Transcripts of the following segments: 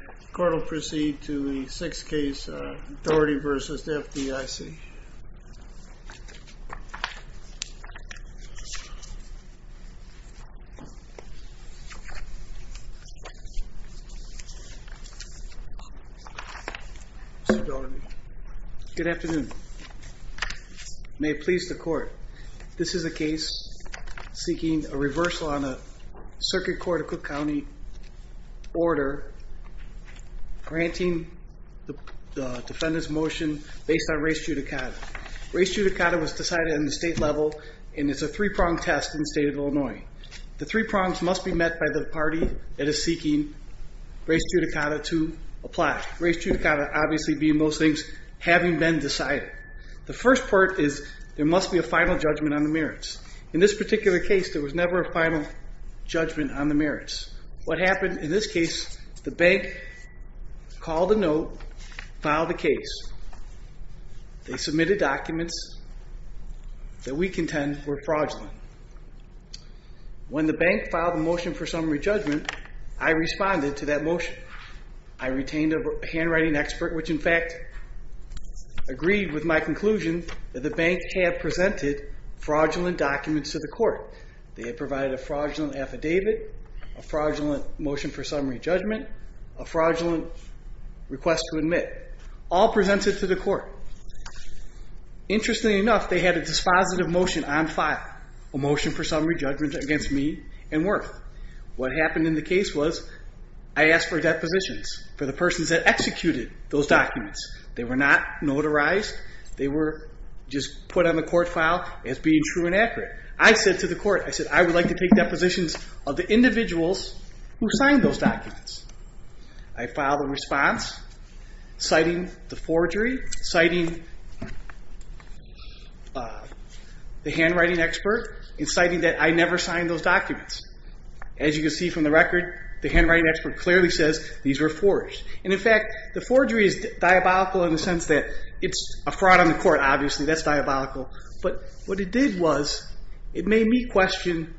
The court will proceed to the sixth case, Doherty v. FDIC. Good afternoon. May it please the court. This is a case seeking a reversal on a circuit court of Cook County order granting the defendant's motion based on res judicata. Res judicata was decided in the state level and it's a three-pronged test in the state of Illinois. The three prongs must be met by the party that is seeking res judicata to apply. Res judicata obviously being those things having been decided. The first part is there must be a final judgment on the merits. In this particular case there was never a final judgment on the merits. What happened in this case, the bank called a note, filed a case. They submitted documents that we contend were fraudulent. When the bank filed a motion for summary judgment, I responded to that motion. I retained a handwriting expert which in fact agreed with my conclusion that the bank had presented fraudulent documents to the court. They had provided a fraudulent affidavit, a fraudulent motion for summary judgment, a fraudulent request to admit. All presented to the court. Interestingly enough, they had a dispositive motion on file, a motion for summary judgment against me and Werth. What happened in the case was I asked for depositions for the persons that executed those documents. They were not notarized. They were just put on the court file as being true and accurate. I said to the court, I said I would like to take depositions of the individuals who signed those documents. I filed a response citing the forgery, citing the handwriting expert, and citing that I never signed those documents. As you can see from the record, the handwriting expert clearly says these were forged. In fact, the forgery is diabolical in the sense that it's a fraud on the court, obviously. That's diabolical. But what it did was, it made me question,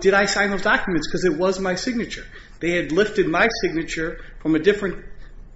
did I sign those documents? Because it was my signature. They had lifted my signature from a different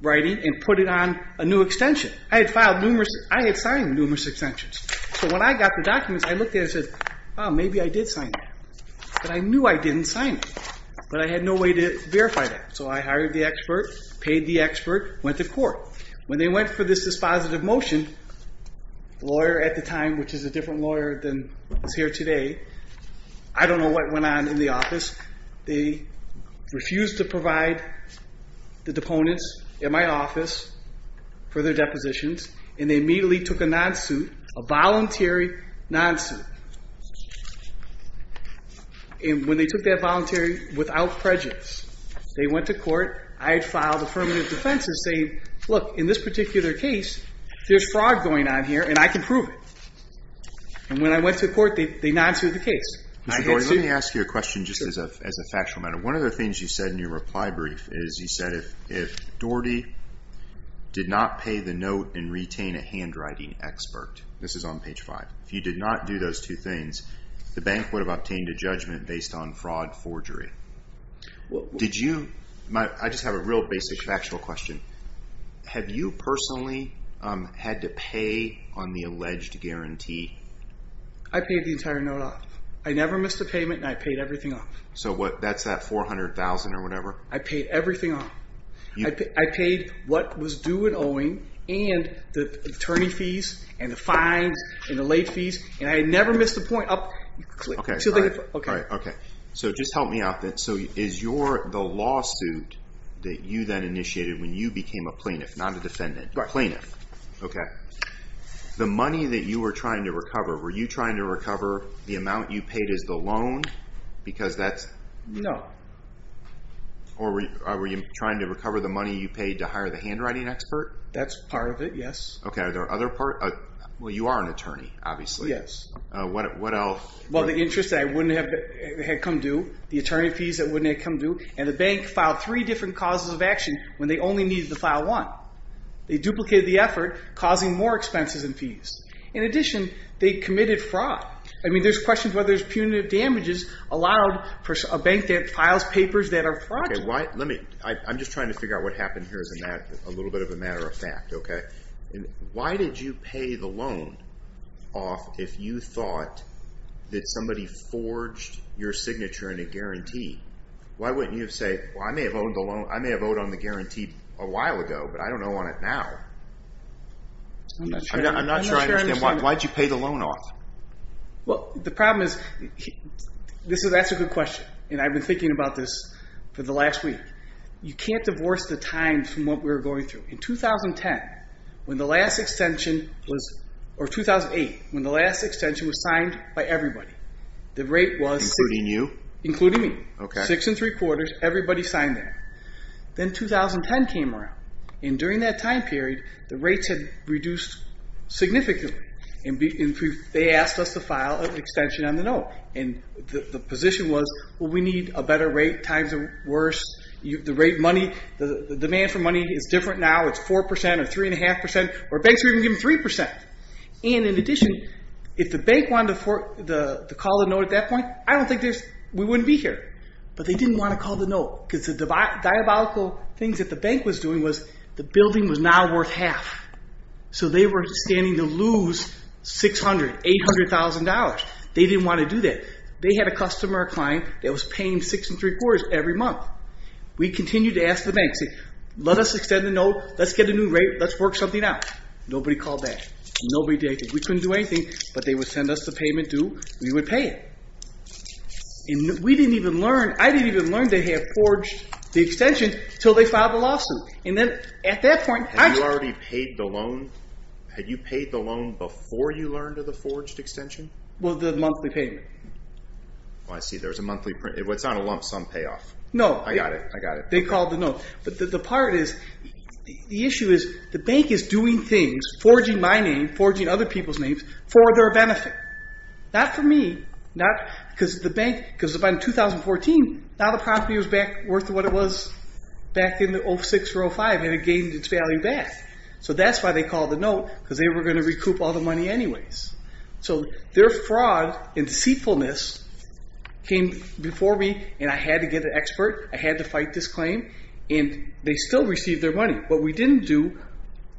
writing and put it on a new extension. I had signed numerous extensions. So when I got the documents, I looked at it and said, oh, maybe I did sign it. But I knew I didn't sign it. But I had no way to verify that. So I hired the expert, paid the expert, went to court. When they went for this dispositive motion, the lawyer at the time, which is a different lawyer than is here today, I don't know what went on in the office. They refused to provide the deponents in my office for their depositions. And they immediately took a non-suit, a voluntary non-suit. And when they took that voluntary without prejudice, they went to court. I had filed affirmative defense and say, look, in this particular case, there's fraud going on here, and I can prove it. And when I went to court, they non-suit the case. Mr. Doherty, let me ask you a question just as a factual matter. One of the things you said in your reply brief is you said if Doherty did not pay the note and retain a handwriting expert, this is on page five, if you did not do those two things, the bank would have obtained a judgment based on fraud forgery. I just have a real basic factual question. Have you personally had to pay on the alleged guarantee? I paid the entire note off. I never missed a payment, and I paid everything off. So that's that $400,000 or whatever? I paid everything off. I paid what was due and owing, and the attorney fees, and the fines, and the late fees, and I never missed a point. Okay, so just help me out then. So is the lawsuit that you then initiated when you became a plaintiff, not a defendant, a plaintiff, the money that you were trying to recover, were you trying to recover the amount you paid as the loan? No. Or were you trying to recover the money you paid to hire the handwriting expert? That's part of it, yes. Okay, are there other parts? Well, you are an attorney, obviously. Yes. What else? Well, the interest that I wouldn't have come due, the attorney fees that wouldn't have come due, and the bank filed three different causes of action when they only needed to file one. They duplicated the effort, causing more expenses and fees. In addition, they committed fraud. I mean, there's questions whether there's punitive damages allowed for a bank that files papers that are fraudulent. I'm just trying to figure out what happened here as a little bit of a matter of fact, okay? Why did you pay the loan off if you thought that somebody forged your signature in a guarantee? Why wouldn't you have said, well, I may have owed on the guarantee a while ago, but I don't owe on it now? I'm not sure I understand. Why did you pay the loan off? Well, the problem is, that's a good question, and I've been thinking about this for the last week. You can't divorce the time from what we were going through. In 2010, when the last extension was, or 2008, when the last extension was signed by everybody, the rate was- Including you? Including me. Okay. Six and three quarters, everybody signed there. Then 2010 came around, and during that time period, the rates had reduced significantly, and they asked us to file an extension on the note. And the position was, well, we need a better rate, times are worse. The rate money, the demand for money is different now. It's 4% or 3.5%, or banks are even giving 3%. And in addition, if the bank wanted to call the note at that point, I don't think we wouldn't be here. But they didn't want to call the note, because the diabolical things that the bank was doing was, the building was now worth half. So they were standing to lose $600,000, $800,000. They didn't want to do that. They had a customer, a client, that was paying six and three quarters every month. We continued to ask the bank, say, let us extend the note, let's get a new rate, let's work something out. Nobody called back. Nobody did anything. We couldn't do anything, but they would send us the payment due, we would pay it. And we didn't even learn, I didn't even learn to have forged the extension until they filed the lawsuit. And then at that point, I- Had you already paid the loan? Had you paid the loan before you learned of the forged extension? Well, the monthly payment. Oh, I see. There was a monthly print. It's not a lump sum payoff. No. I got it. I got it. They called the note. But the part is, the issue is, the bank is doing things, forging my name, forging other people's names, for their benefit. Not for me, not because the bank, because by 2014, now the property was back worth what it was back in the 06 or 05, and it gained its value back. So that's why they called the note, because they were going to recoup all the money anyways. So their fraud and deceitfulness came before me, and I had to get an expert. I had to fight this claim. And they still received their money. What we didn't do,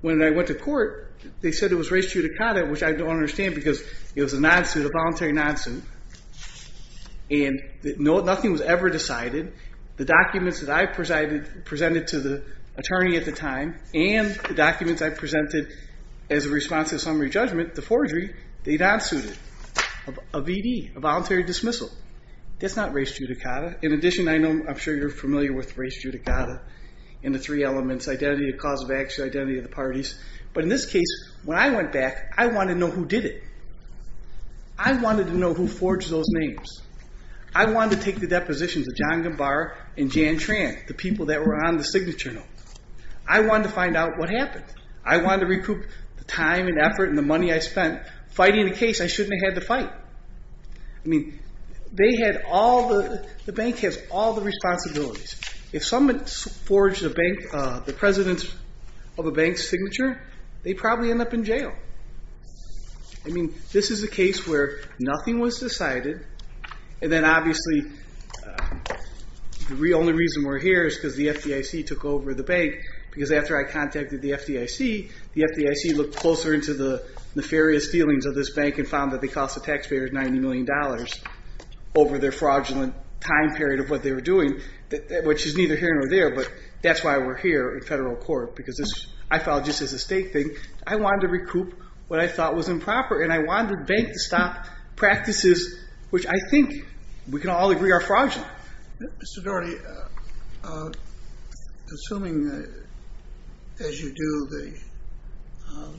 when I went to court, they said it was res judicata, which I don't understand, because it was a non-suit, a voluntary non-suit. And nothing was ever decided. The documents that I presented to the attorney at the time, and the documents I presented as a response to the summary judgment, the forgery, they non-suited, a VD, a voluntary dismissal. That's not res judicata. In addition, I know, I'm sure you're familiar with res judicata, and the three elements, identity of cause of action, identity of the parties. But in this case, when I went back, I wanted to know who did it. I wanted to know who forged those names. I wanted to take the depositions of John Gambar and Jan Tran, the people that were on the signature note. I wanted to find out what happened. I wanted to recoup the time and effort and the money I spent fighting the case I shouldn't have had to fight. I mean, the bank has all the responsibilities. If someone forged the president of a bank's signature, they'd probably end up in jail. I mean, this is a case where nothing was decided, and then obviously, the only reason we're here is because the FDIC took over the bank. Because after I contacted the FDIC, the FDIC looked closer into the nefarious feelings of this bank and found that they cost the taxpayers $90 million over their fraudulent time period of what they were doing. Which is neither here nor there, but that's why we're here in federal court. Because this, I felt, just as a state thing, I wanted to recoup what I thought was improper, and I wanted the bank to stop practices which I think we can all agree are fraudulent. Mr. Daugherty, assuming as you do the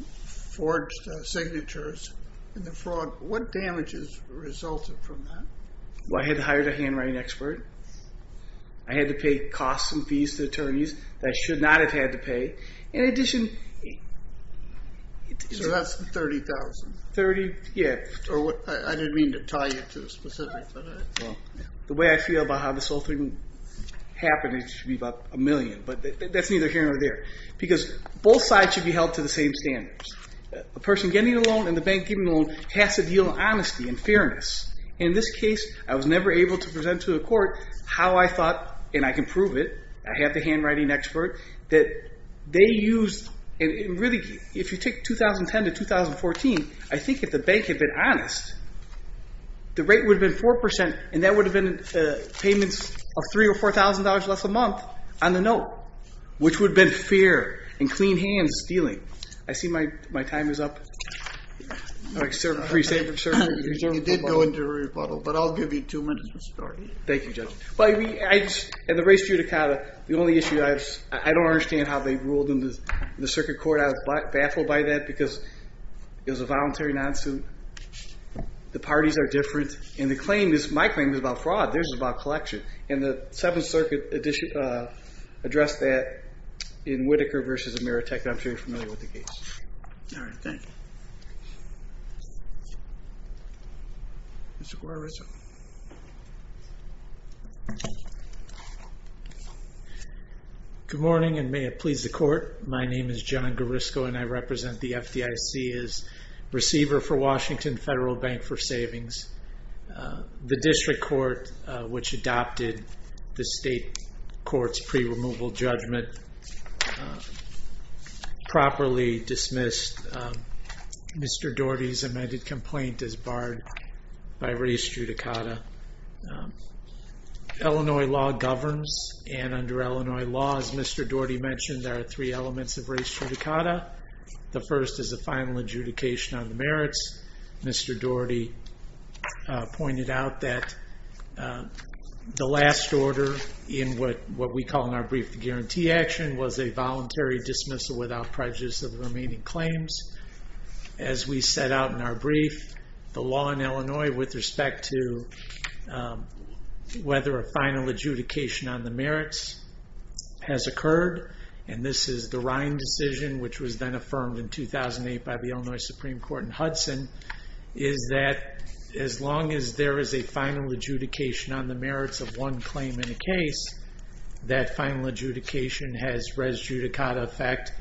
forged signatures and the fraud, what damages resulted from that? Well, I had to hire a handwriting expert. I had to pay costs and fees to attorneys that I should not have had to pay. In addition... So that's the $30,000? $30,000, yeah. I didn't mean to tie you to specifics, but... The way I feel about how this whole thing happened, it should be about a million, but that's neither here nor there. Because both sides should be held to the same standards. A person getting a loan and the bank getting a loan has to deal in honesty and fairness. In this case, I was never able to present to the court how I thought, and I can prove it, I had the handwriting expert, that they used... If you take 2010 to 2014, I think if the bank had been honest, the rate would have been 4%, and that would have been payments of $3,000 or $4,000 less a month on the note, which would have been fair and clean hands dealing. I see my time is up. You did go into a rebuttal, but I'll give you two minutes to start. Thank you, Judge. In the race judicata, the only issue I have is I don't understand how they ruled in the circuit court. I was baffled by that because it was a voluntary non-suit. The parties are different, and my claim is about fraud. Theirs is about collection, and the Seventh Circuit addressed that in Whitaker v. Amirotech, and I'm sure you're familiar with the case. All right, thank you. Mr. Gorrisco. Good morning, and may it please the court. My name is John Gorrisco, and I represent the FDIC as receiver for Washington Federal Bank for Savings. The district court, which adopted the state court's pre-removal judgment, properly dismissed Mr. Doherty's amended complaint as barred by race judicata. Illinois law governs, and under Illinois law, as Mr. Doherty mentioned, there are three elements of race judicata. The first is a final adjudication on the merits. Mr. Doherty pointed out that the last order in what we call in our brief the guarantee action was a voluntary dismissal without prejudice of the remaining claims. As we set out in our brief, the law in Illinois with respect to whether a final adjudication on the merits has occurred, and this is the Rhine decision, which was then affirmed in 2008 by the Illinois Supreme Court in Hudson, is that as long as there is a final adjudication on the merits of one claim in a case, that final adjudication has res judicata effect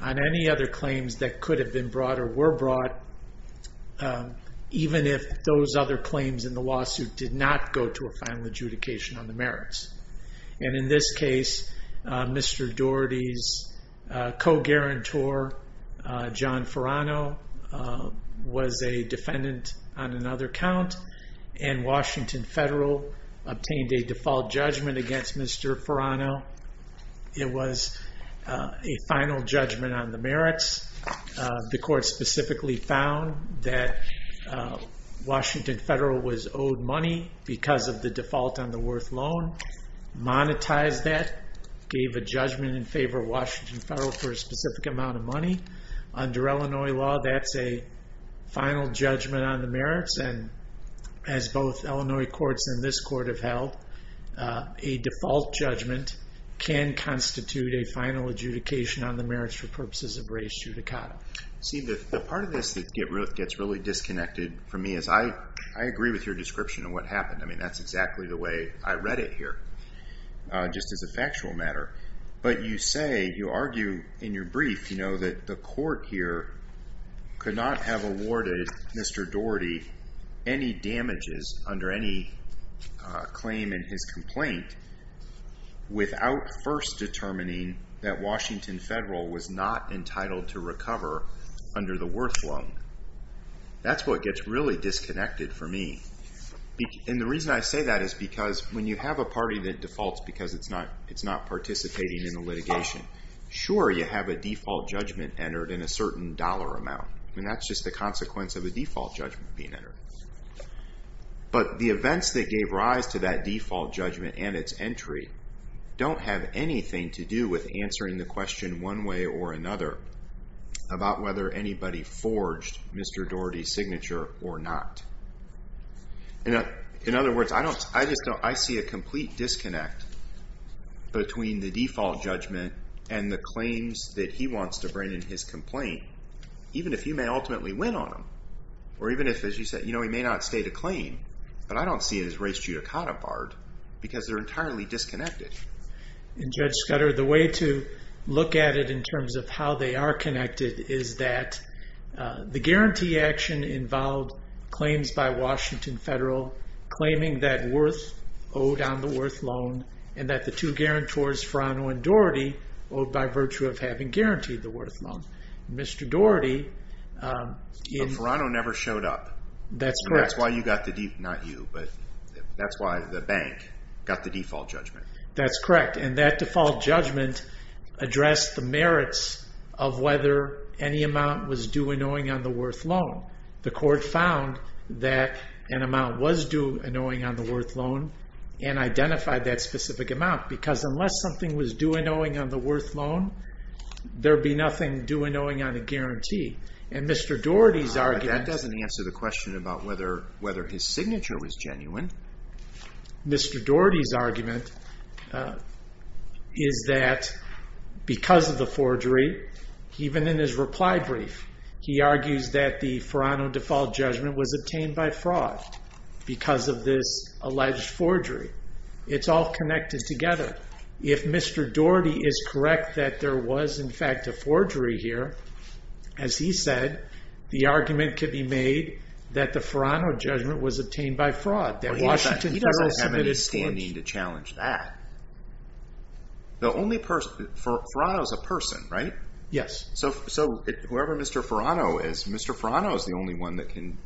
on any other claims that could have been brought or were brought, even if those other claims in the lawsuit did not go to a final adjudication on the merits. In this case, Mr. Doherty's co-guarantor, John Ferrano, was a defendant on another count, and Washington Federal obtained a default judgment against Mr. Ferrano. It was a final judgment on the merits. The court specifically found that Washington Federal was owed money because of the default on the worth loan, monetized that, gave a judgment in favor of Washington Federal for a specific amount of money. Under Illinois law, that's a final judgment on the merits, and as both Illinois courts and this court have held, a default judgment can constitute a final adjudication on the merits for purposes of res judicata. See, the part of this that gets really disconnected for me is I agree with your description of what happened. I mean, that's exactly the way I read it here, just as a factual matter. But you say, you argue in your brief, you know, that the court here could not have awarded Mr. Doherty any damages under any claim in his complaint without first determining that Washington Federal was not entitled to recover under the worth loan. That's what gets really disconnected for me. And the reason I say that is because when you have a party that defaults because it's not participating in the litigation, sure, you have a default judgment entered in a certain dollar amount. I mean, that's just the consequence of a default judgment being entered. But the events that gave rise to that default judgment and its entry don't have anything to do with answering the question one way or another about whether anybody forged Mr. Doherty's signature or not. In other words, I see a complete disconnect between the default judgment and the claims that he wants to bring in his complaint, even if he may ultimately win on them, or even if, as you said, you know, he may not state a claim. But I don't see it as res judicata, Bart, because they're entirely disconnected. And Judge Scudder, the way to look at it in terms of how they are connected is that the guarantee action involved claims by Washington Federal claiming that Worth owed on the Worth loan and that the two guarantors, Ferrano and Doherty, owed by virtue of having guaranteed the Worth loan. Mr. Doherty... But Ferrano never showed up. That's correct. And that's why you got the default, not you, but that's why the bank got the default judgment. That's correct. And that default judgment addressed the merits of whether any amount was due and owing on the Worth loan. The court found that an amount was due and owing on the Worth loan and identified that specific amount, because unless something was due and owing on the Worth loan, there'd be nothing due and owing on the guarantee. And Mr. Doherty's argument... But that doesn't answer the question about whether his signature was genuine. Mr. Doherty's argument is that because of the forgery, even in his reply brief, he argues that the Ferrano default judgment was obtained by fraud because of this alleged forgery. It's all connected together. If Mr. Doherty is correct that there was, in fact, a forgery here, as he said, the argument could be made that the Ferrano judgment was obtained by fraud. He doesn't have any standing to challenge that. Ferrano's a person, right? Yes. So whoever Mr. Ferrano is, Mr. Ferrano's the only one that can,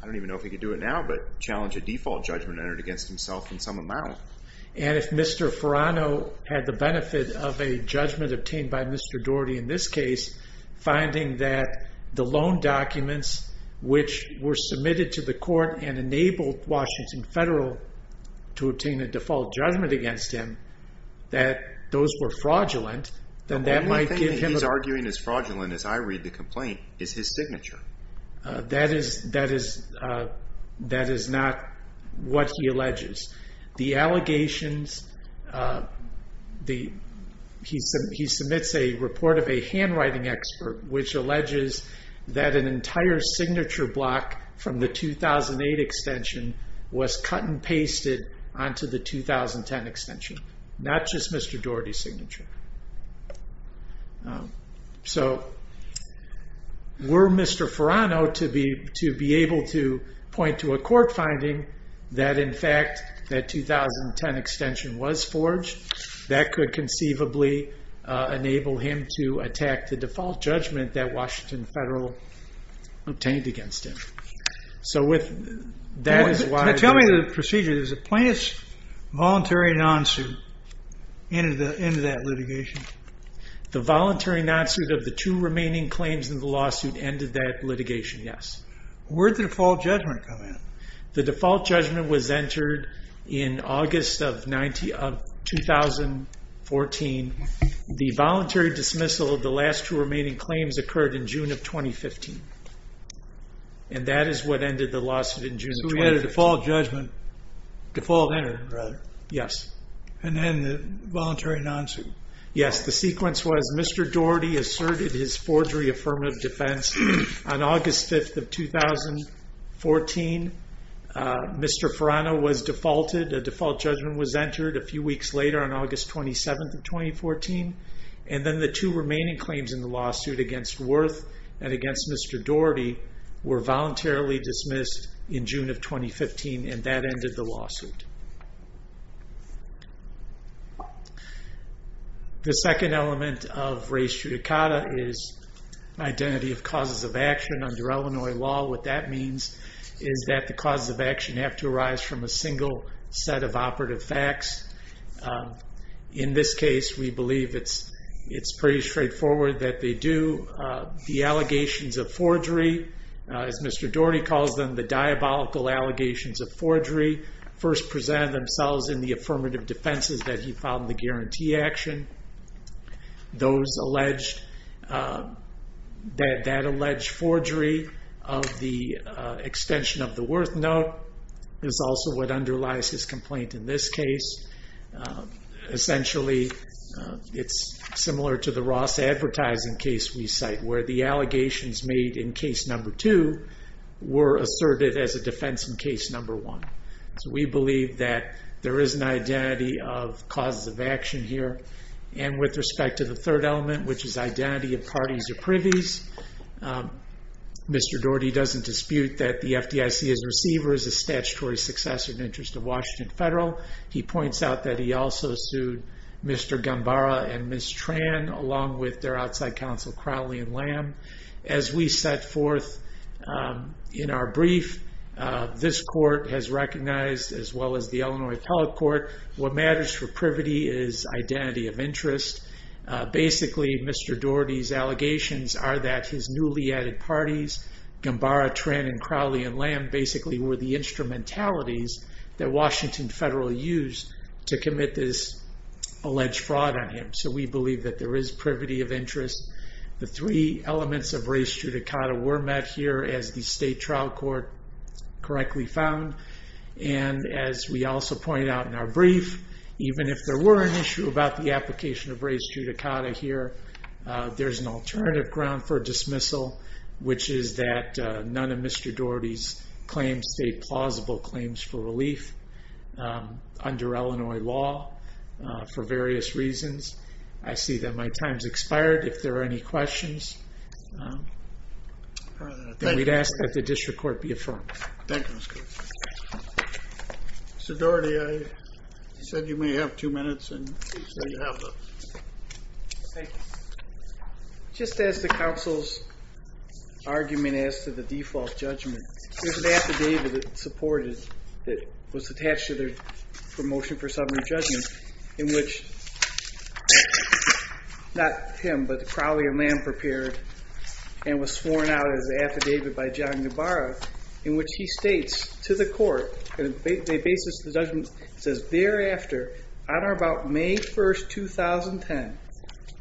I don't even know if he can do it now, but challenge a default judgment entered against himself in some amount. And if Mr. Ferrano had the benefit of a judgment obtained by Mr. Doherty in this case, finding that the loan documents which were submitted to the court and enabled Washington Federal to obtain a default judgment against him, that those were fraudulent, then that might give him... The only thing he's arguing is fraudulent, as I read the complaint, is his signature. That is not what he alleges. The allegations, he submits a report of a handwriting expert, which alleges that an entire signature block from the 2008 extension was cut and pasted onto the 2010 extension. Not just Mr. Doherty's signature. So were Mr. Ferrano to be able to point to a court finding that in fact that 2010 extension was forged, that could conceivably enable him to attack the default judgment that Washington Federal obtained against him. So that is why... Now tell me the procedure. Does the plaintiff's voluntary non-suit end that litigation? The voluntary non-suit of the two remaining claims in the lawsuit ended that litigation, yes. Where did the default judgment come in? The default judgment was entered in August of 2014. The voluntary dismissal of the last two remaining claims occurred in June of 2015. And that is what ended the lawsuit in June of 2015. So we had a default judgment... Default entered, rather. Yes. And then the voluntary non-suit. Yes. The sequence was Mr. Doherty asserted his forgery affirmative defense on August 5th of 2014. Mr. Ferrano was defaulted. A default judgment was entered a few weeks later on August 27th of 2014. And then the two remaining claims in the lawsuit against Worth and against Mr. Doherty were voluntarily dismissed in June of 2015. And that ended the lawsuit. The second element of res judicata is identity of causes of action under Illinois law. What that means is that the causes of action have to arise from a single set of operative facts. In this case, we believe it's pretty straightforward that they do. The allegations of forgery, as Mr. Doherty calls them, the diabolical allegations of forgery, first presented themselves in the affirmative defenses that he filed in the guarantee action. That alleged forgery of the extension of the Worth note is also what underlies his complaint in this case. Essentially, it's similar to the Ross advertising case we cite, where the allegations made in case number two were asserted as a defense in case number one. So we believe that there is an identity of causes of action here. And with respect to the third element, which is identity of parties or privies, Mr. Doherty doesn't dispute that the FDIC's receiver is a statutory successor in the interest of Washington Federal. He points out that he also sued Mr. Gambara and Ms. Tran, along with their outside counsel, Crowley and Lamb. As we set forth in our brief, this court has recognized, as well as the Illinois Telecourt, what matters for privity is identity of interest. Basically, Mr. Doherty's allegations are that his newly added parties, Gambara, Tran, and Crowley and Lamb, basically were the instrumentalities that Washington Federal used to commit this alleged fraud on him. So we believe that there is privity of interest. The three elements of res judicata were met here, as the state trial court correctly found. And as we also pointed out in our brief, even if there were an issue about the application of res judicata here, there's an alternative ground for dismissal, which is that none of Mr. Doherty's claims state plausible claims for relief under Illinois law for various reasons. I see that my time's expired. If there are any questions, then we'd ask that the district court be affirmed. Thank you, Mr. Cooper. Mr. Doherty, I said you may have two minutes, and there you have them. Thank you. Just as the counsel's argument as to the default judgment, there's an affidavit that was attached to their motion for summary judgment in which not him, but Crowley and Lamb prepared and was sworn out as an affidavit by John Gambara, in which he states to the court on the basis of the judgment, it says, Thereafter, on or about May 1, 2010,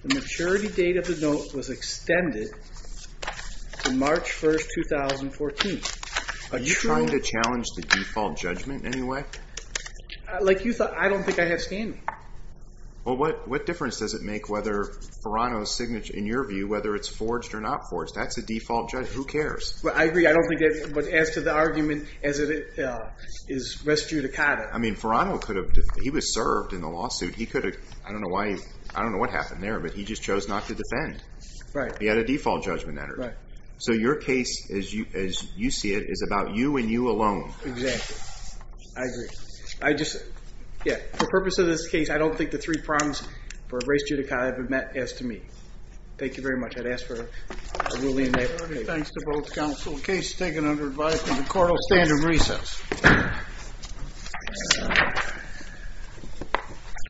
the maturity date of the note was extended to March 1, 2014. Are you trying to challenge the default judgment in any way? Like you thought, I don't think I have standing. Well, what difference does it make whether Ferano's signature, in your view, whether it's forged or not forged? That's a default judgment. Who cares? Well, I agree. I don't think it adds to the argument as it is res judicata. I mean, Ferano, he was served in the lawsuit. He could have, I don't know what happened there, but he just chose not to defend. He had a default judgment entered. So your case, as you see it, is about you and you alone. Exactly. I agree. I just, yeah, for the purpose of this case, I don't think the three prongs for res judicata have been met as to me. Thank you very much. I'd ask for a ruling. Thanks to both counsel. The case is taken under advice and the court will stand in recess.